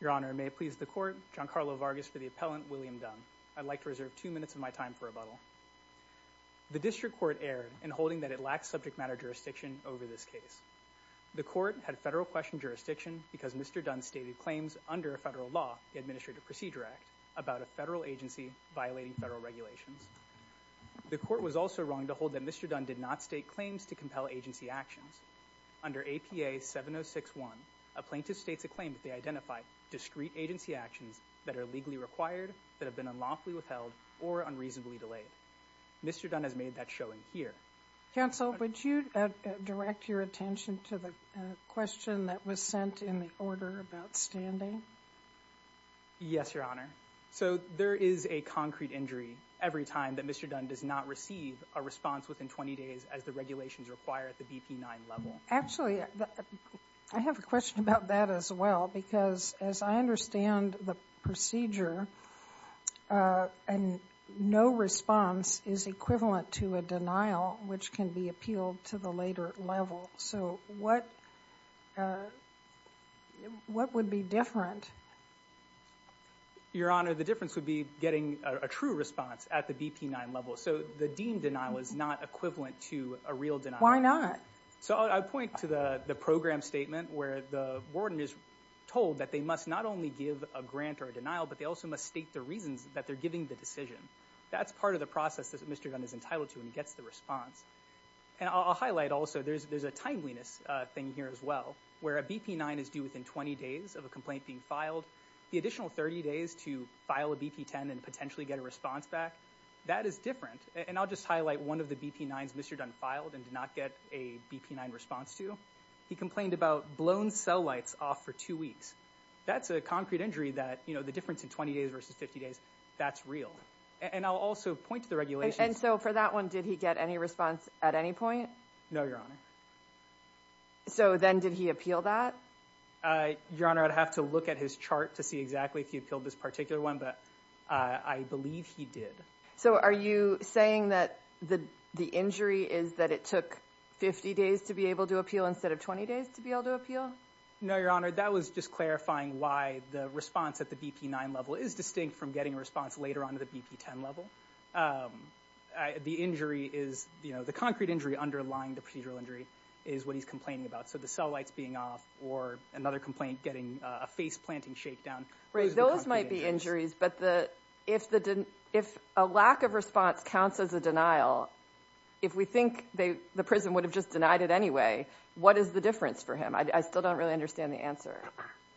Your Honor, may it please the Court, Giancarlo Vargas for the appellant William Dunne. I'd like to reserve two minutes of my time for rebuttal. The District Court erred in holding that it lacks subject matter jurisdiction over this case. The Court had federal question jurisdiction because Mr. Dunne stated claims under federal law, the Administrative Procedure Act, about a federal agency violating federal regulations. The Court was also wrong to hold that Mr. Dunne did not state claims to compel agency actions. Under APA 706-1, a plaintiff states a claim that they identify discrete agency actions that are legally required that have been unlawfully withheld or unreasonably delayed. Mr. Dunne has made that showing here. Counsel, would you direct your attention to the question that was sent in the order about standing? Yes, Your Honor. So there is a concrete injury every time that Mr. Dunne does not receive a response within 20 days as the regulations require at the BP-9 level. Actually, I have a question about that as well because as I understand the procedure, no response is equivalent to a denial which can be appealed to the later level. So what would be different? Your Honor, the difference would be getting a true response at the BP-9 level. So the deemed denial is not equivalent to a real denial. Why not? So I point to the program statement where the warden is told that they must not only give a grant or a denial, but they also must state the reasons that they're giving the decision. That's part of the process that Mr. Dunne is entitled to when he gets the response. And I'll highlight also there's a timeliness thing here as well where a BP-9 is due within 20 days of a complaint being filed. The additional 30 days to file a BP-10 and potentially get a response back, that is different. And I'll just highlight one of the BP-9s Mr. Dunne filed and did not get a BP-9 response to. He complained about blown cell lights off for two weeks. That's a concrete injury that the difference in 20 days versus 50 days, that's real. And I'll also point to the regulations. And so for that one, did he get any response at any point? No, Your Honor. So then did he appeal that? Your Honor, I'd have to look at his chart to see exactly if he appealed this particular one, but I believe he did. So are you saying that the injury is that it took 50 days to be able to appeal instead of 20 days to be able to appeal? No, Your Honor. That was just clarifying why the response at the BP-9 level is distinct from getting a response later on to the BP-10 level. The injury is, you know, the concrete injury underlying the procedural injury is what he's complaining about. So the cell lights being off or another complaint getting a face-planting shakedown. Those might be injuries, but if a lack of response counts as a denial, if we think the prison would have just denied it anyway, what is the difference for him? I still don't really understand the answer.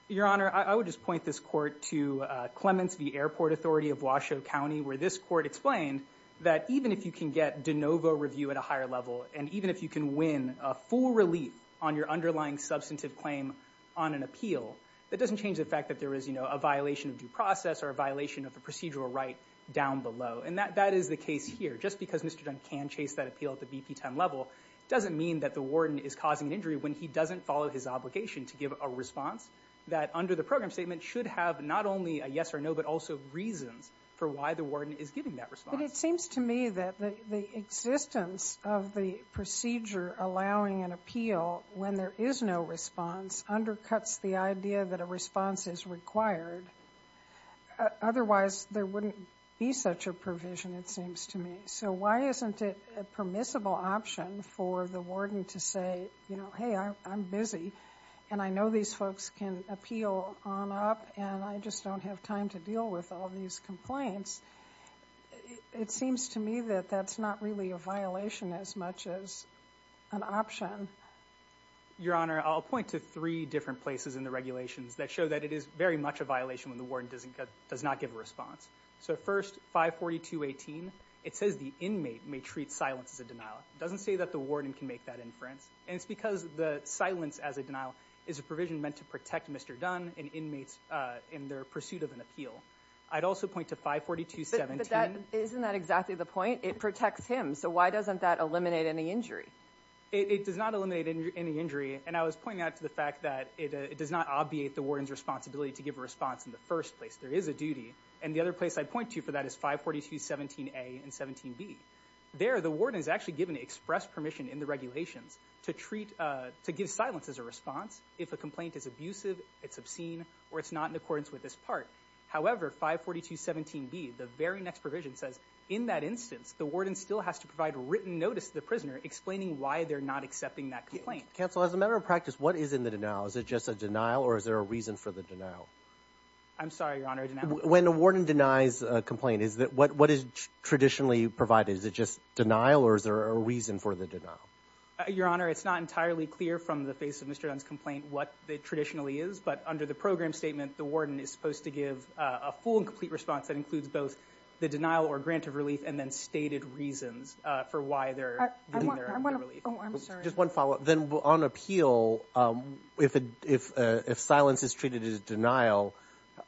Your Honor, I would just point this court to Clements v. Airport Authority of Washoe level, and even if you can win a full relief on your underlying substantive claim on an appeal, that doesn't change the fact that there is, you know, a violation of due process or a violation of a procedural right down below. And that is the case here. Just because Mr. Dunn can chase that appeal at the BP-10 level doesn't mean that the warden is causing an injury when he doesn't follow his obligation to give a response that under the program statement should have not only a yes or no but also reasons for why the warden is giving that response. But it seems to me that the existence of the procedure allowing an appeal when there is no response undercuts the idea that a response is required. Otherwise, there wouldn't be such a provision, it seems to me. So why isn't it a permissible option for the warden to say, you know, hey, I'm busy, and I know these folks can appeal on up, and I just don't have time to deal with all these complaints, it seems to me that that's not really a violation as much as an option. Your Honor, I'll point to three different places in the regulations that show that it is very much a violation when the warden doesn't get – does not give a response. So first, 542.18, it says the inmate may treat silence as a denial. It doesn't say that the warden can make that inference. And it's because the silence as a denial is a provision meant to protect Mr. Dunn and inmates in their pursuit of an appeal. I'd also point to 542.17. But that – isn't that exactly the point? It protects him. So why doesn't that eliminate any injury? It does not eliminate any injury. And I was pointing out to the fact that it does not obviate the warden's responsibility to give a response in the first place. There is a duty. And the other place I'd point to for that is 542.17a and 17b. There, the warden is actually given express permission in the regulations to treat – to give silence as a response if a complaint is abusive, it's obscene, or it's not in accordance with this part. However, 542.17b, the very next provision, says in that instance, the warden still has to provide written notice to the prisoner explaining why they're not accepting that complaint. Counsel, as a matter of practice, what is in the denial? Is it just a denial or is there a reason for the denial? I'm sorry, Your Honor, a denial? When a warden denies a complaint, is that – what is traditionally provided? Is it just denial or is there a reason for the denial? Your Honor, it's not entirely clear from the face of Mr. Dunn's complaint what it traditionally is. But under the program statement, the warden is supposed to give a full and complete response that includes both the denial or grant of relief and then stated reasons for why they're – I want to – Oh, I'm sorry. Just one follow-up. Then on appeal, if silence is treated as denial,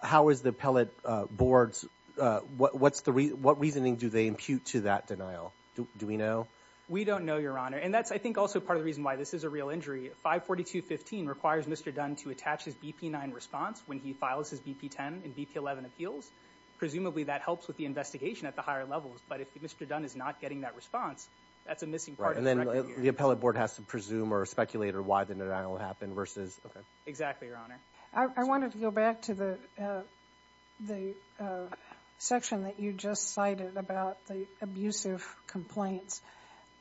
how is the appellate board's – what's the – what reasoning do they impute to that denial? Do we know? We don't know, Your Honor. And that's, I think, also part of the reason why this is a real injury. 542.15 requires Mr. Dunn to attach his BP-9 response when he files his BP-10 and BP-11 appeals. Presumably, that helps with the investigation at the higher levels. But if Mr. Dunn is not getting that response, that's a missing part of his record Right. And then the appellate board has to presume or speculate or why the denial happened versus – okay. Exactly, Your Honor. I wanted to go back to the section that you just cited about the abusive complaints.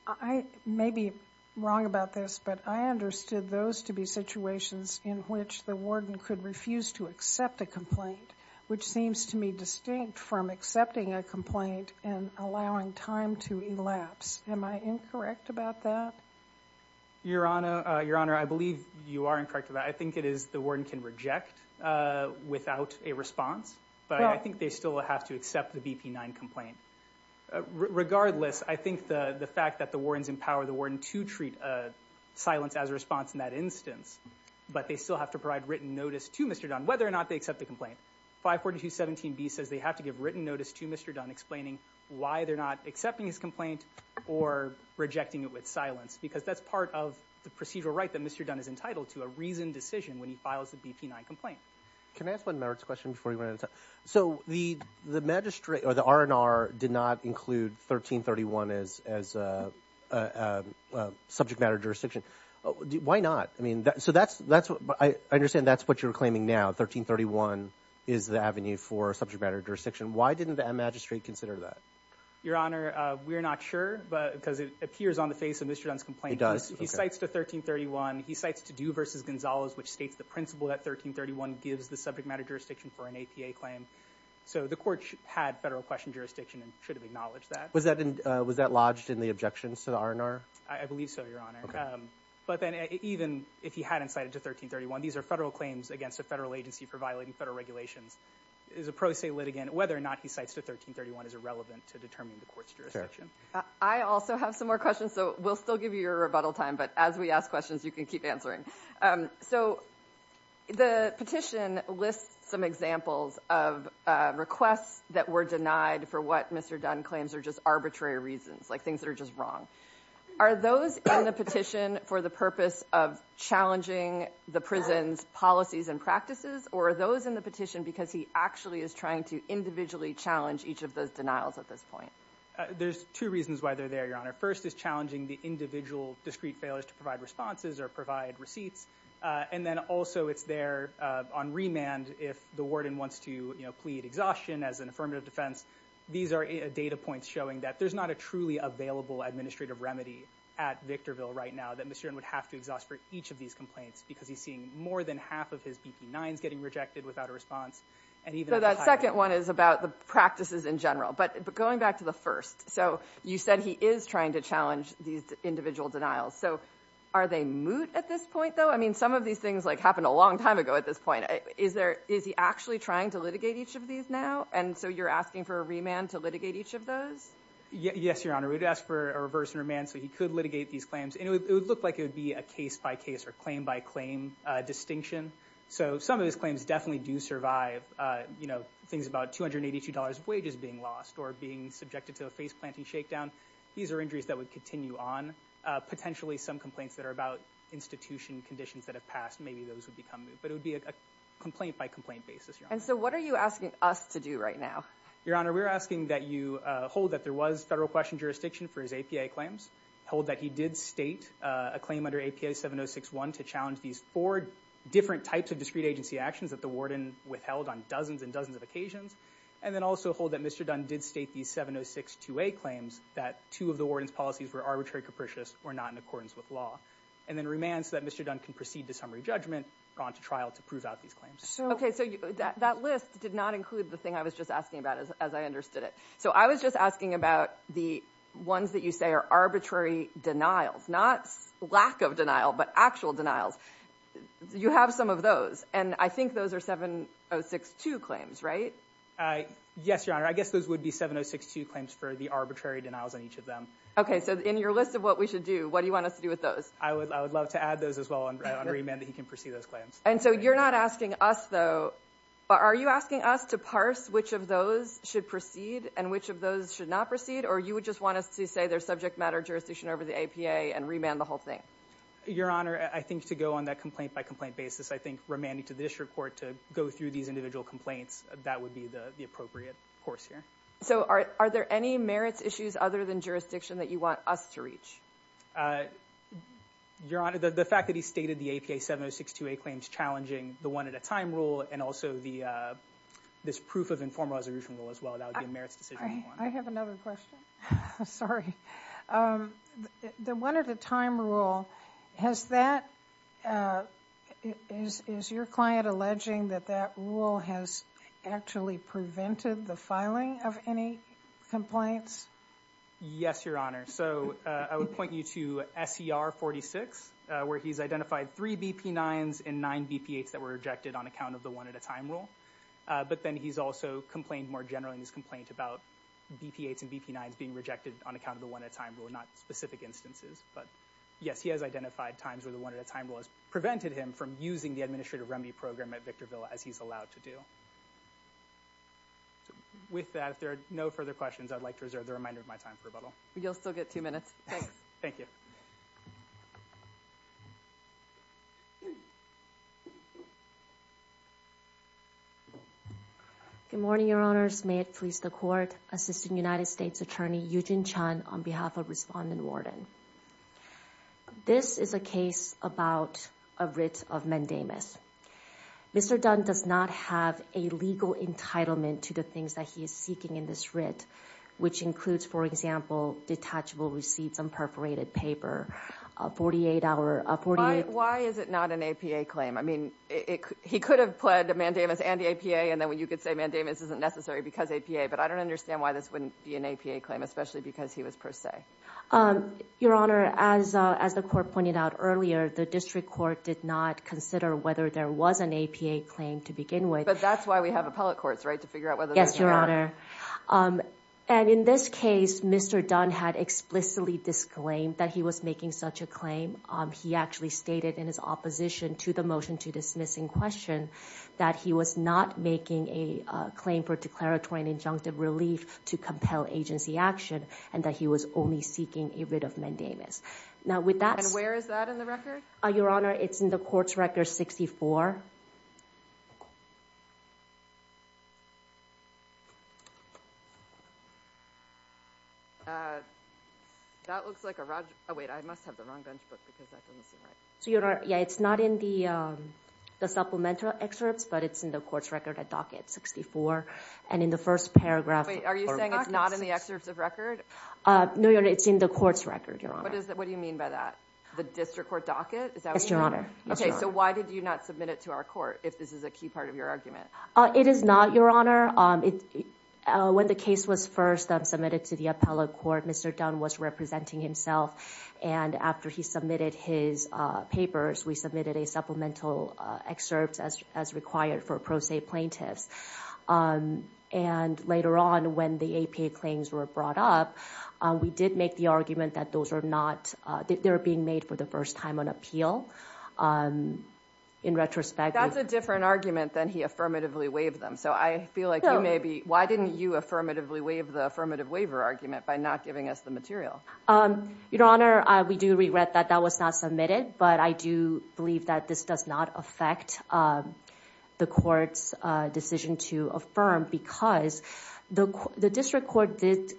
I may be wrong about this, but I understood those to be situations in which the warden could refuse to accept a complaint, which seems to me distinct from accepting a complaint and allowing time to elapse. Am I incorrect about that? Your Honor, I believe you are incorrect about that. I think it is the warden can reject without a response, but I think they still have to accept the BP-9 complaint. Regardless, I think the fact that the wardens empower the warden to treat silence as a response in that instance, but they still have to provide written notice to Mr. Dunn whether or not they accept the complaint. 542.17b says they have to give written notice to Mr. Dunn explaining why they're not accepting his complaint or rejecting it with silence, because that's part of the procedural right that Mr. Dunn is entitled to, a reasoned decision when he files the BP-9 complaint. Can I ask one merits question before we run out of time? So the magistrate or the R&R did not include 1331 as a subject matter jurisdiction. Why not? I mean, so that's – I understand that's what you're claiming now, 1331 is the avenue for subject matter jurisdiction. Why didn't the magistrate consider that? Your Honor, we're not sure, but because it appears on the face of Mr. Dunn's complaint. He cites the 1331. He cites to do versus Gonzales, which states the principle that 1331 gives the subject matter jurisdiction for an APA claim. So the court had federal question jurisdiction and should have acknowledged that. Was that lodged in the objections to the R&R? I believe so, Your Honor. But then even if he hadn't cited to 1331, these are federal I also have some more questions, so we'll still give you your rebuttal time, but as we ask questions, you can keep answering. So the petition lists some examples of requests that were denied for what Mr. Dunn claims are just arbitrary reasons, like things that are just wrong. Are those in the petition for the purpose of challenging the prison's policies and practices, or are those in the petition to individually challenge each of those denials at this point? There's two reasons why they're there, Your Honor. First is challenging the individual discreet failures to provide responses or provide receipts. And then also it's there on remand if the warden wants to plead exhaustion as an affirmative defense. These are data points showing that there's not a truly available administrative remedy at Victorville right now that Mr. Dunn would have to exhaust for each of these complaints because he's seeing more than half of his BP-9s getting rejected without a response. So that second one is about the practices in general. But going back to the first, so you said he is trying to challenge these individual denials. So are they moot at this point, though? I mean, some of these things happened a long time ago at this point. Is he actually trying to litigate each of these now? And so you're asking for a remand to litigate each of those? Yes, Your Honor. We'd ask for a reverse remand so he could litigate these claims. And it would look like it would be a case-by-case or claim-by-claim distinction. So some of his claims definitely do survive, you know, things about $282 of wages being lost or being subjected to a face-planting shakedown. These are injuries that would continue on. Potentially some complaints that are about institution conditions that have passed, maybe those would become moot. But it would be a complaint-by-complaint basis, Your Honor. And so what are you asking us to do right now? Your Honor, we're asking that you hold that there was federal question jurisdiction for his APA claims, hold that he did state a claim under APA 7061 to challenge these four different types of discrete agency actions that the warden withheld on dozens and dozens of occasions, and then also hold that Mr. Dunn did state these 7062A claims that two of the warden's policies were arbitrary, capricious, or not in accordance with law. And then remand so that Mr. Dunn can proceed to summary judgment, go on to trial to prove out these claims. Okay, so that list did not include the thing I was just asking about as I understood it. So I was just asking about the ones that you say are arbitrary denials, not lack of denial, but actual denials. You have some of those, and I think those are 7062 claims, right? Yes, Your Honor. I guess those would be 7062 claims for the arbitrary denials on each of them. Okay, so in your list of what we should do, what do you want us to do with those? I would love to add those as well and remand that he can proceed those claims. And so you're not asking us, though, are you asking us to parse which of those should proceed and which of those should not proceed? Or you would just want us to say there's subject matter jurisdiction over the APA and remand the whole thing? Your Honor, I think to go on that complaint by complaint basis, I think remanding to the district court to go through these individual complaints, that would be the appropriate course here. So are there any merits issues other than jurisdiction that you want us to reach? Your Honor, the fact that he stated the APA 7062a claims challenging the one-at-a-time rule and also this proof of informed resolution rule as well, that would be a merits decision. I have another question. Sorry. The one-at-a-time rule, has that, is your client alleging that that rule has actually prevented the filing of any complaints? Yes, Your Honor. So I would point you to SER 46, where he's identified three BP9s and nine BP8s that were rejected on account of the one-at-a-time rule. But then he's also complained more generally in his complaint about BP8s and BP9s being rejected on account of the one-at-a-time rule, not specific instances. But yes, he has identified times where the one-at-a-time rule has prevented him from using the administrative remedy program at Victorville as he's allowed to do. So with that, if there are no further questions, I'd like to reserve the reminder of my time for rebuttal. You'll still get two minutes. Thanks. Thank you. Good morning, Your Honors. May it please the Court. Assistant United States Attorney Yujin Chun on behalf of Respondent Worden. This is a case about a writ of mendamus. Mr. Dunn does not have a legal entitlement to the things that he is seeking in this writ, which includes, for example, detachable receipts on perforated paper. Why is it not an APA claim? I mean, he could have pled mendamus and the APA, and then you could say mendamus isn't necessary because APA. But I don't understand why this wouldn't be an APA claim, especially because he was per se. Your Honor, as the Court pointed out earlier, the District Court did not consider whether there was an APA claim to begin with. But that's why we have appellate courts, right, to figure out whether there is or not. And in this case, Mr. Dunn had explicitly disclaimed that he was making such a claim. He actually stated in his opposition to the motion to dismiss in question that he was not making a claim for declaratory and injunctive relief to compel agency action, and that he was only seeking a writ of mendamus. Now with that... And where is that in the record? Your Honor, it's in the court's record 64. That looks like a... Oh, wait, I must have the wrong bench book because that doesn't seem right. So, Your Honor, yeah, it's not in the supplemental excerpts, but it's in the court's record at docket 64. And in the first paragraph... Wait, are you saying it's not in the excerpts of record? No, Your Honor, it's in the court's record, Your Honor. What do you mean by that? The district court docket? Yes, Your Honor. Okay, so why did you not submit it to our court if this is a key part of your argument? It is not, Your Honor. When the case was first submitted to the appellate court, Mr. Dunn was representing himself. And after he submitted his papers, we submitted a supplemental excerpt as required for pro se plaintiffs. And later on, when the APA claims were brought up, we did make the argument that those are being made for the first time on appeal. In retrospect... That's a different argument than he affirmatively waived them. So I feel like you may be... Why didn't you affirmatively waive the affirmative waiver argument by not giving us the material? Your Honor, we do regret that that was not submitted. But I do believe that this does not affect the court's decision to affirm because the district court did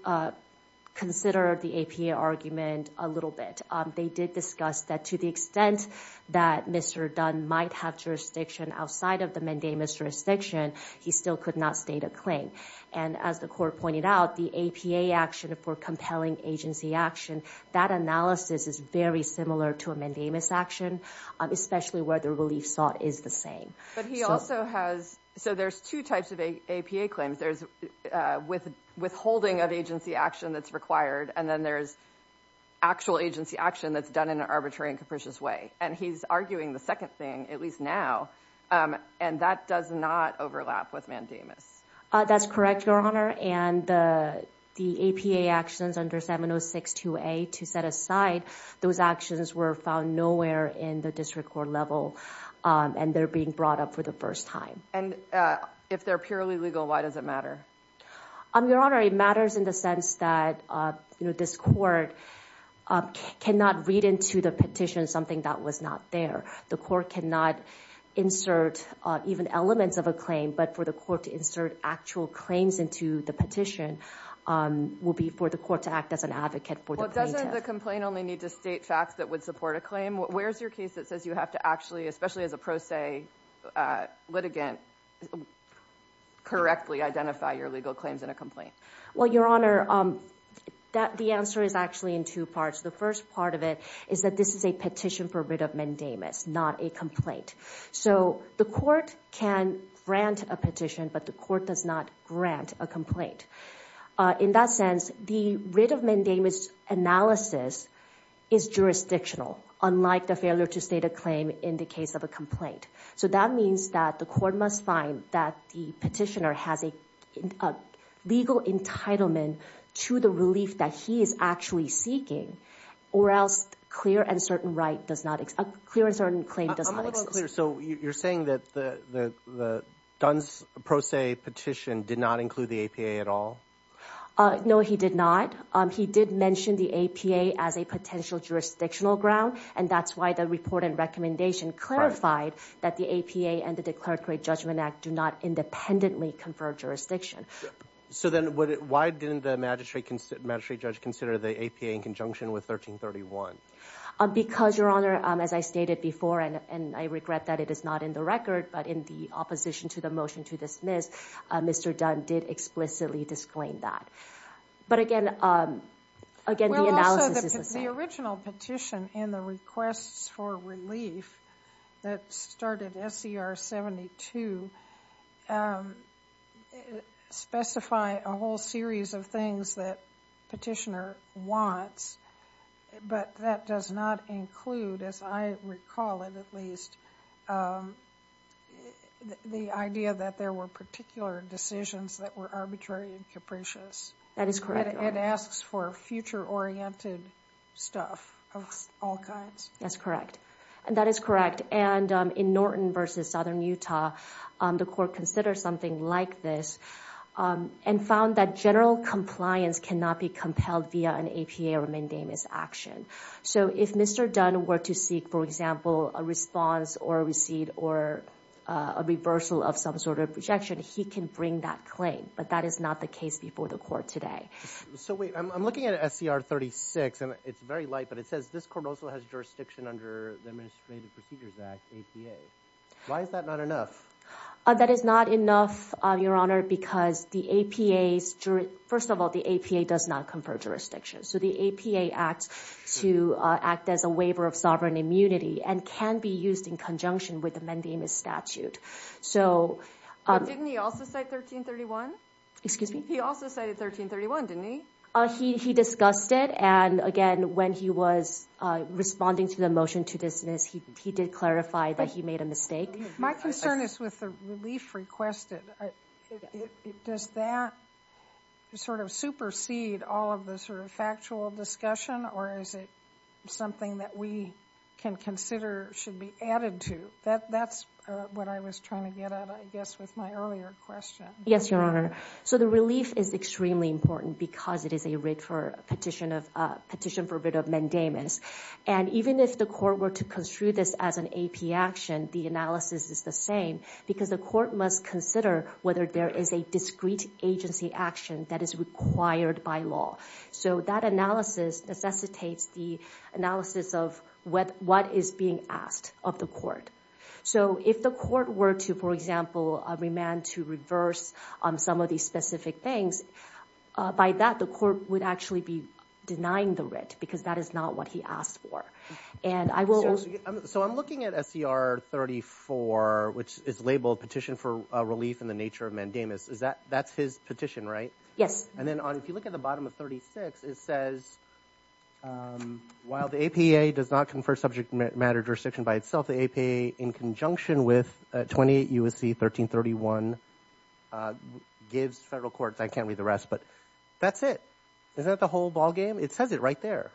consider the APA argument a little bit. They did discuss that to the extent that Mr. Dunn might have jurisdiction outside of the mandamus jurisdiction, he still could not state a claim. And as the court pointed out, the APA action for compelling agency action, that analysis is very similar to a mandamus action, especially where the relief sought is the same. But he also has... So there's two types of APA claims. There's withholding of agency action that's required, and then there's actual agency action that's done in an arbitrary and capricious way. And he's arguing the second thing, at least now, and that does not overlap with mandamus. That's correct, Your Honor. And the APA actions under 7062A to set aside, those actions were found nowhere in the district court level, and they're being brought up for the first time. And if they're purely legal, why does it matter? Your Honor, it matters in the sense that this court cannot read into the petition something that was not there. The court cannot insert even elements of a claim, but for the court to insert actual claims into the petition will be for the court to act as an advocate for the plaintiff. Well, doesn't the complaint only need to state facts that would support a claim? Where's your case that says you have to actually, especially as a pro se litigant, correctly identify your legal claims in a complaint? Well, Your Honor, the answer is actually in two parts. The first part of it is that this is a petition for writ of mandamus, not a complaint. So the court can grant a petition, but the court does not grant a complaint. In that sense, the writ of mandamus analysis is jurisdictional, unlike the failure to state a claim in the case of a complaint. So that means that the court must find that the petitioner has a legal entitlement to the relief that he is actually seeking, or else a clear and certain claim does not exist. I'm a little unclear. So you're saying that the Dunn's pro se petition did not include the APA at all? No, he did not. He did mention the APA as a potential jurisdictional ground, and that's why the report and recommendation clarified that the APA and the Declared Great Judgment Act do not independently confer jurisdiction. So then why didn't the magistrate judge consider the APA in conjunction with 1331? Because, Your Honor, as I stated before, and I regret that it is not in the record, but in the opposition to the motion to dismiss, Mr. Dunn did explicitly disclaim that. But again, the analysis is the same. The original petition and the requests for relief that started SCR 72 specify a whole series of things that petitioner wants. But that does not include, as I recall it at least, the idea that there were particular decisions that were arbitrary and capricious. That is correct. It asks for future-oriented stuff of all kinds. That's correct. And that is correct. And in Norton v. Southern Utah, the court considered something like this and found that general compliance cannot be compelled via an APA or a mandamus action. So if Mr. Dunn were to seek, for example, a response or a receipt or a reversal of some sort of projection, he can bring that claim. But that is not the case before the court today. So wait, I'm looking at SCR 36, and it's very light, but it says this court also has the Administrative Procedures Act, APA. Why is that not enough? That is not enough, Your Honor, because the APA's jury— first of all, the APA does not confer jurisdiction. So the APA acts to act as a waiver of sovereign immunity and can be used in conjunction with the mandamus statute. So— Didn't he also cite 1331? Excuse me? He also cited 1331, didn't he? He discussed it. And again, when he was responding to the motion to dismiss, he did clarify that he made a My concern is with the relief requested. Does that sort of supersede all of the sort of factual discussion, or is it something that we can consider should be added to? That's what I was trying to get at, I guess, with my earlier question. Yes, Your Honor. So the relief is extremely important because it is a petition for writ of mandamus. And even if the court were to construe this as an AP action, the analysis is the same because the court must consider whether there is a discrete agency action that is required by law. So that analysis necessitates the analysis of what is being asked of the court. So if the court were to, for example, remand to reverse some of these specific things, by that the court would actually be denying the writ because that is not what he asked for. And I will— So I'm looking at SCR 34, which is labeled Petition for Relief in the Nature of Mandamus. That's his petition, right? Yes. And then if you look at the bottom of 36, it says, while the APA does not confer subject matter jurisdiction by itself, the APA, in conjunction with 28 U.S.C. 1331, gives federal courts—I can't read the rest, but that's it. Is that the whole ballgame? It says it right there.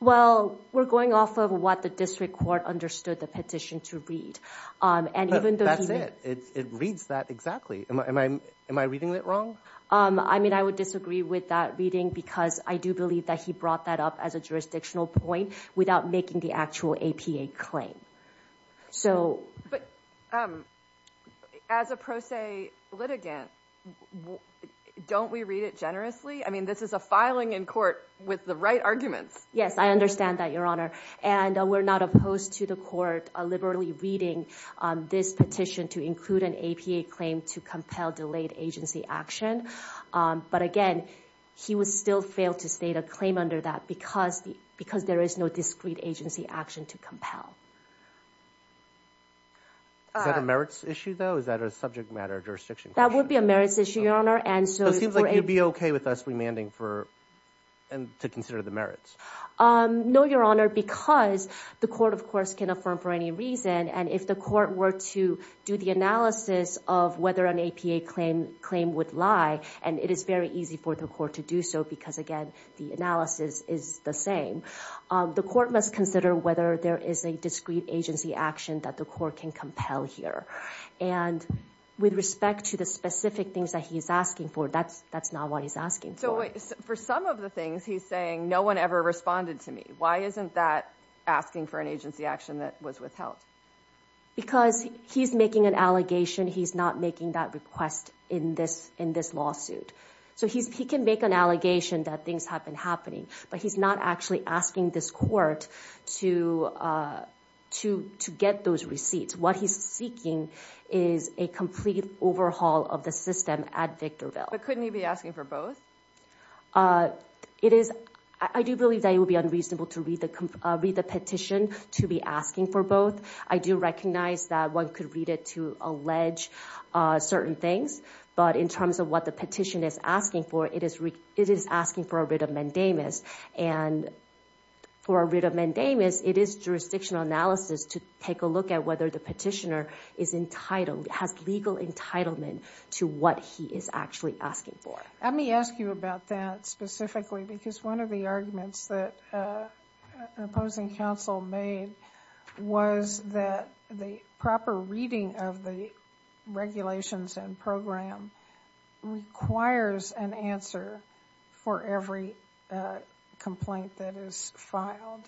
Well, we're going off of what the district court understood the petition to read. And even though he— That's it. It reads that exactly. Am I reading that wrong? I mean, I would disagree with that reading because I do believe that he brought that up as a jurisdictional point without making the actual APA claim. So— But as a pro se litigant, don't we read it generously? I mean, this is a filing in court with the right arguments. Yes, I understand that, Your Honor. And we're not opposed to the court liberally reading this petition to include an APA claim to compel delayed agency action. But again, he would still fail to state a claim under that because there is no discrete agency action to compel. Is that a merits issue, though? Is that a subject matter jurisdiction question? That would be a merits issue, Your Honor. So it seems like you'd be okay with us remanding to consider the merits? No, Your Honor, because the court, of course, can affirm for any reason. And if the court were to do the analysis of whether an APA claim would lie—and it is very easy for the court to do so because, again, the analysis is the same—the court must consider whether there is a discrete agency action that the court can compel here. And with respect to the specific things that he's asking for, that's not what he's asking for. So for some of the things he's saying, no one ever responded to me. Why isn't that asking for an agency action that was withheld? Because he's making an allegation. He's not making that request in this lawsuit. So he can make an allegation that things have been happening, but he's not actually asking this court to get those receipts. What he's seeking is a complete overhaul of the system at Victorville. But couldn't he be asking for both? I do believe that it would be unreasonable to read the petition to be asking for both. I do recognize that one could read it to allege certain things. But in terms of what the petition is asking for, it is asking for a writ of mandamus. And for a writ of mandamus, it is jurisdictional analysis to take a look at whether the petitioner has legal entitlement to what he is actually asking for. Let me ask you about that specifically because one of the arguments that an opposing counsel made was that the proper reading of the regulations and program requires an answer for every complaint that is filed.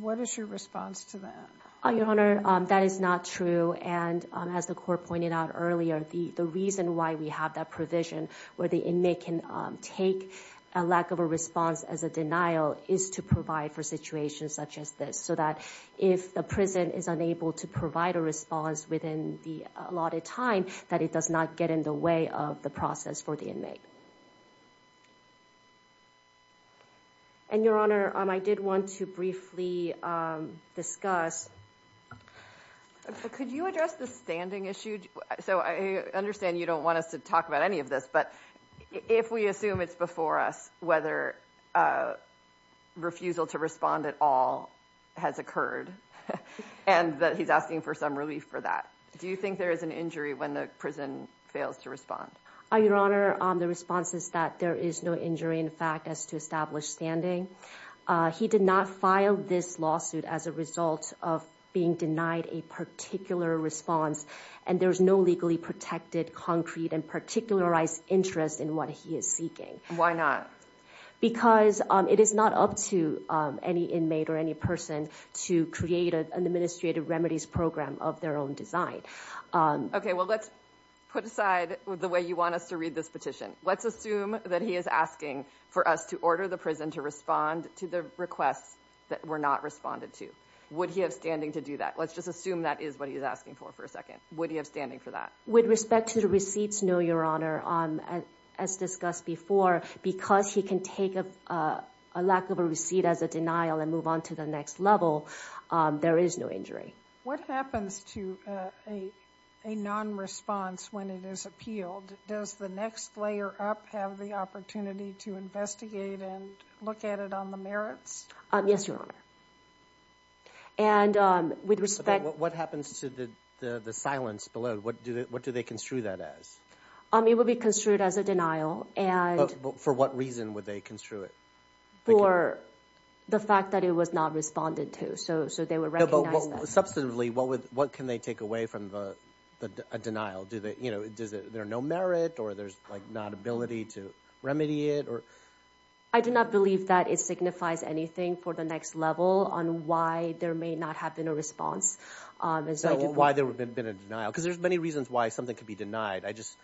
What is your response to that? Your Honor, that is not true. And as the court pointed out earlier, the reason why we have that provision where the inmate can take a lack of a response as a denial is to provide for situations such as this. So that if the prison is unable to provide a response within the allotted time, that it does not get in the way of the process for the inmate. And Your Honor, I did want to briefly discuss... Could you address the standing issue? So I understand you don't want us to talk about any of this, but if we assume it's before us whether refusal to respond at all has occurred and that he's asking for some relief for that, do you think there is an injury when the prison fails to respond? Your Honor, the response is that there is no injury in fact as to established standing. He did not file this lawsuit as a result of being denied a particular response. And there's no legally protected concrete and particularized interest in what he is seeking. Why not? Because it is not up to any inmate or any person to create an administrative remedies program of their own design. Okay, well, let's put aside the way you want us to read this petition. Let's assume that he is asking for us to order the prison to respond to the requests that were not responded to. Would he have standing to do that? Let's just assume that is what he's asking for for a second. Would he have standing for that? With respect to the receipts, no, Your Honor. As discussed before, because he can take a lack of a receipt as a denial and move on to the next level, there is no injury. What happens to a non-response when it is appealed? Does the next layer up have the opportunity to investigate and look at it on the merits? Yes, Your Honor. And with respect... What happens to the silence below? What do they construe that as? It would be construed as a denial and... For what reason would they construe it? For the fact that it was not responded to. So they would recognize that. Substantively, what can they take away from the denial? There are no merit or there's like not ability to remedy it or... I do not believe that it signifies anything for the next level on why there may not have been a response. Why there would have been a denial? Because there's many reasons why something could be denied. I just...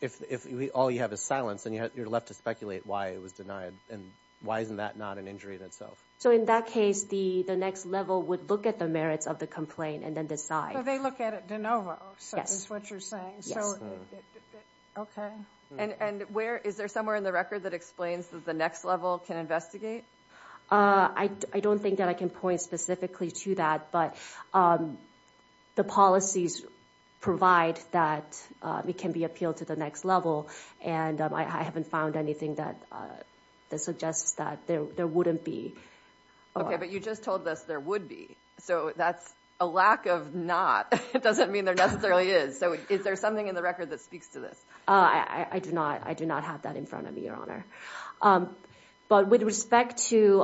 If all you have is silence and you're left to speculate why it was denied and why isn't that not an injury in itself? So in that case, the next level would look at the merits of the complaint and then decide. So they look at it de novo, is what you're saying. Okay. And where... Is there somewhere in the record that explains that the next level can investigate? I don't think that I can point specifically to that. But the policies provide that it can be appealed to the next level. And I haven't found anything that suggests that there wouldn't be. Okay, but you just told us there would be. So that's a lack of not. It doesn't mean there necessarily is. So is there something in the record that speaks to this? I do not have that in front of me, Your Honor. But with respect to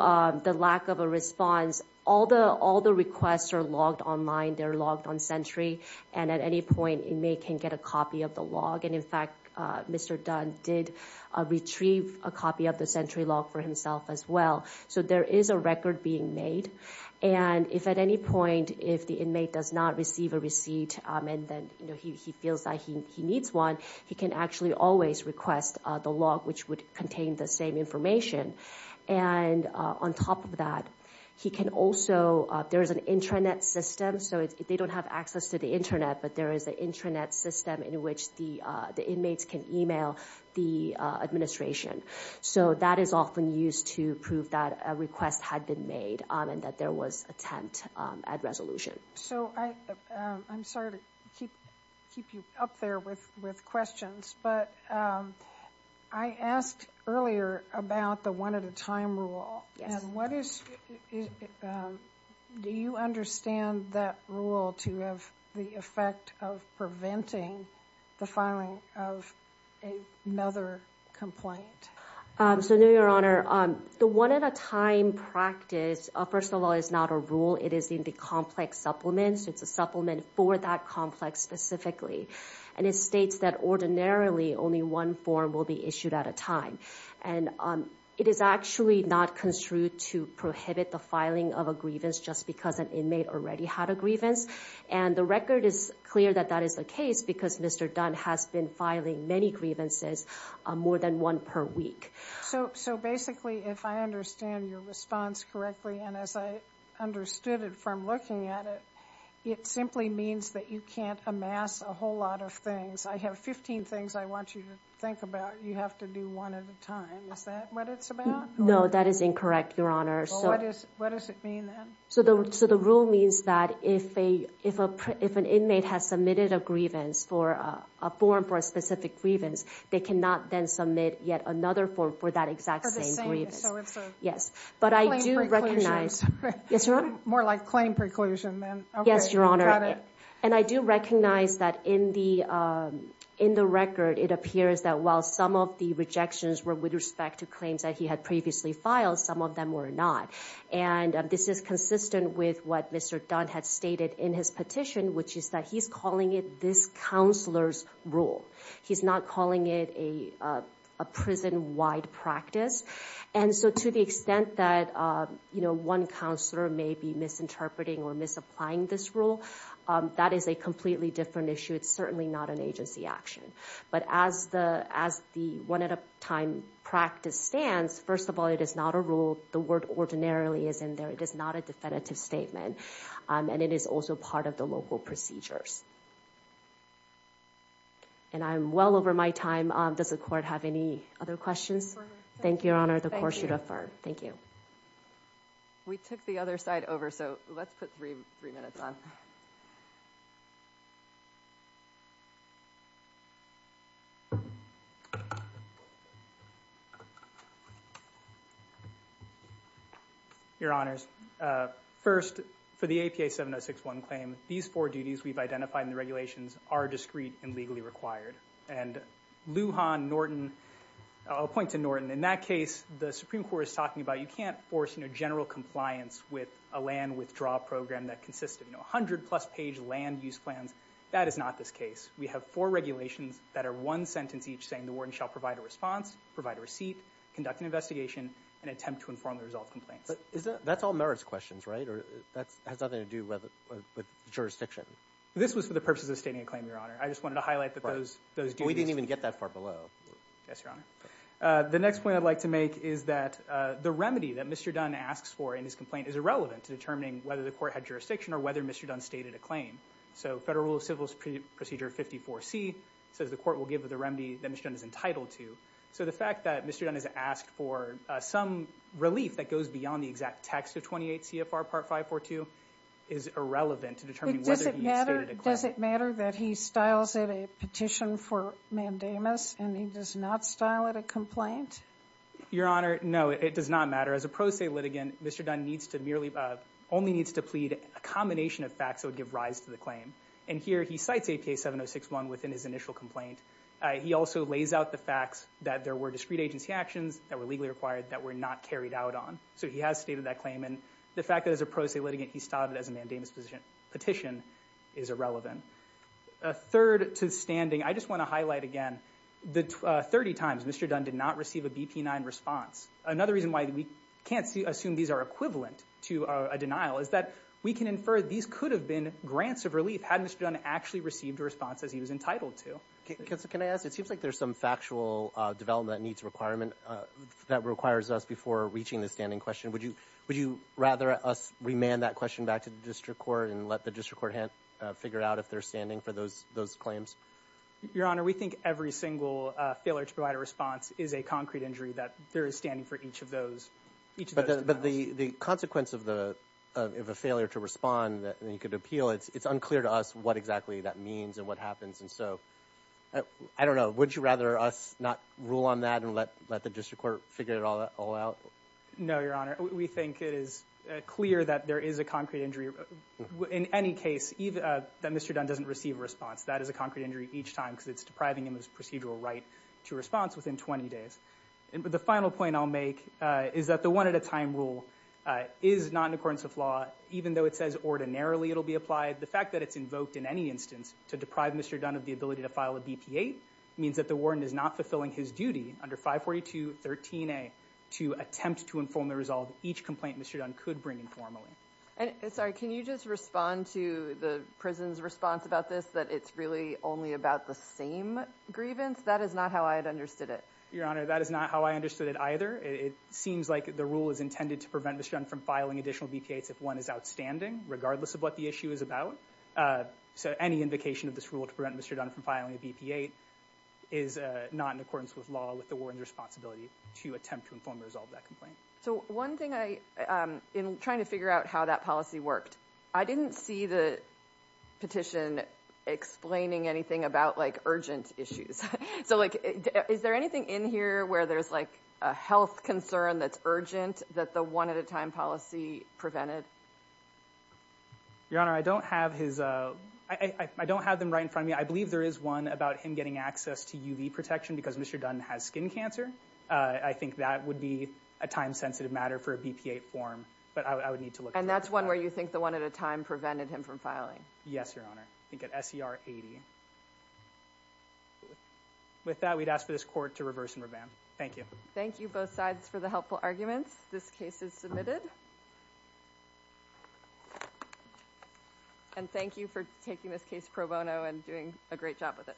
the lack of a response, all the requests are logged online. They're logged on Sentry. And at any point, inmate can get a copy of the log. And in fact, Mr. Dunn did retrieve a copy of the Sentry log for himself as well. So there is a record being made. And if at any point, if the inmate does not receive a receipt, and then he feels that he needs one, he can actually always request the log, which would contain the same information. And on top of that, he can also... There is an intranet system. So they don't have access to the intranet, but there is an intranet system in which the inmates can email the administration. So that is often used to prove that a request had been made and that there was attempt at resolution. So I'm sorry to keep you up there with questions, but I asked earlier about the one-at-a-time rule. Do you understand that rule to have the effect of preventing the filing of another complaint? So no, Your Honor. The one-at-a-time practice, first of all, is not a rule. It is in the complex supplements. It's a supplement for that complex specifically. And it states that ordinarily, only one form will be issued at a time. And it is actually not construed to prohibit the filing of a grievance just because an inmate already had a grievance. And the record is clear that that is the case because Mr. Dunn has been filing many grievances, more than one per week. So basically, if I understand your response correctly, and as I understood it from looking at it, it simply means that you can't amass a whole lot of things. I have 15 things I want you to think about. You have to do one at a time. Is that what it's about? No, that is incorrect, Your Honor. So what does it mean then? So the rule means that if an inmate has submitted a grievance for a form for a specific grievance, they cannot then submit yet another form for that exact same grievance. Yes, but I do recognize... More like claim preclusion then. Yes, Your Honor. And I do recognize that in the record, it appears that while some of the rejections were with respect to claims that he had previously filed, some of them were not. And this is consistent with what Mr. Dunn had stated in his petition, which is that he's calling it this counselor's rule. He's not calling it a prison-wide practice. And so to the extent that one counselor may be misinterpreting or misapplying this rule, that is a completely different issue. It's certainly not an agency action. But as the one-at-a-time practice stands, first of all, it is not a rule. The word ordinarily is in there. It is not a definitive statement. And it is also part of the local procedures. And I'm well over my time. Does the court have any other questions? Thank you, Your Honor. The court should defer. Thank you. We took the other side over. So let's put three minutes on. Your Honors, first, for the APA 7061 claim, these four duties we've identified in the regulations are discrete and legally required. And Lujan, Norton, I'll point to Norton. In that case, the Supreme Court is talking about you can't force general compliance with a land withdrawal program that consists of 100-plus page land use plans. That is not this case. We have four regulations that are one sentence each saying the warden shall provide a response, provide a receipt, conduct an investigation, and attempt to inform the result of complaints. But that's all merits questions, right? Or that has nothing to do with jurisdiction? This was for the purposes of stating a claim, Your Honor. I just wanted to highlight that those duties. We didn't even get that far below. Yes, Your Honor. The next point I'd like to make is that the remedy that Mr. Dunn asks for in his complaint is irrelevant to determining whether the court had jurisdiction or whether Mr. Dunn stated a claim. So Federal Rule of Civil Procedure 54C says the court will give the remedy that Mr. Dunn is entitled to. So the fact that Mr. Dunn has asked for some relief that goes beyond the exact text of 28 CFR Part 542 is irrelevant to determining whether he stated a claim. Does it matter that he styles it a petition for mandamus and he does not style it a complaint? Your Honor, no. It does not matter. As a pro se litigant, Mr. Dunn only needs to plead a combination of facts that would give rise to the claim. And here, he cites APA 7061 within his initial complaint. He also lays out the facts that there were discrete agency actions that were legally required that were not carried out on. So he has stated that claim. And the fact that as a pro se litigant, he styled it as a mandamus petition is irrelevant. A third to the standing, I just want to highlight again, 30 times Mr. Dunn did not receive a BP-9 response. Another reason why we can't assume these are equivalent to a denial is that we can infer these could have been grants of relief had Mr. Dunn actually received a response as he was entitled to. Can I ask? It seems like there's some factual development that needs requirement that requires us before reaching the standing question. Would you rather us remand that question back to the district court and let the district court figure out if they're standing for those claims? Your Honor, we think every single failure to provide a response is a concrete injury that there is standing for each of those. But the consequence of a failure to respond that you could appeal, it's unclear to us what exactly that means and what happens. And so I don't know. Would you rather us not rule on that and let the district court figure it all out? No, Your Honor. We think it is clear that there is a concrete injury in any case that Mr. Dunn doesn't receive a response. That is a concrete injury each time because it's depriving him of his procedural right to response within 20 days. The final point I'll make is that the one-at-a-time rule is not in accordance with law. Even though it says ordinarily it'll be applied, the fact that it's invoked in any instance to deprive Mr. Dunn of the ability to file a BP-8 means that the warden is not fulfilling his duty under 542.13a to attempt to inform the resolve each complaint Mr. Dunn could bring informally. And sorry, can you just respond to the prison's response about this that it's really only about the same grievance? That is not how I had understood it. Your Honor, that is not how I understood it either. It seems like the rule is intended to prevent Mr. Dunn from filing additional BP-8s if one is outstanding, regardless of what the issue is about. So any invocation of this rule to prevent Mr. Dunn from filing a BP-8 is not in accordance with law, with the warden's responsibility to attempt to informally resolve that complaint. So one thing I, in trying to figure out how that policy worked, I didn't see the petition explaining anything about like urgent issues. So like, is there anything in here where there's like a health concern that's urgent that the one-at-a-time policy prevented? Your Honor, I don't have his, I don't have them right in front of me. I believe there is one about him getting access to UV protection because Mr. Dunn has skin cancer. I think that would be a time-sensitive matter for a BP-8 form, but I would need to look at that. And that's one where you think the one-at-a-time prevented him from filing? Yes, Your Honor. I think at SER 80. With that, we'd ask for this court to reverse and revamp. Thank you. Thank you both sides for the helpful arguments. This case is submitted. And thank you for taking this case pro bono and doing a great job with it.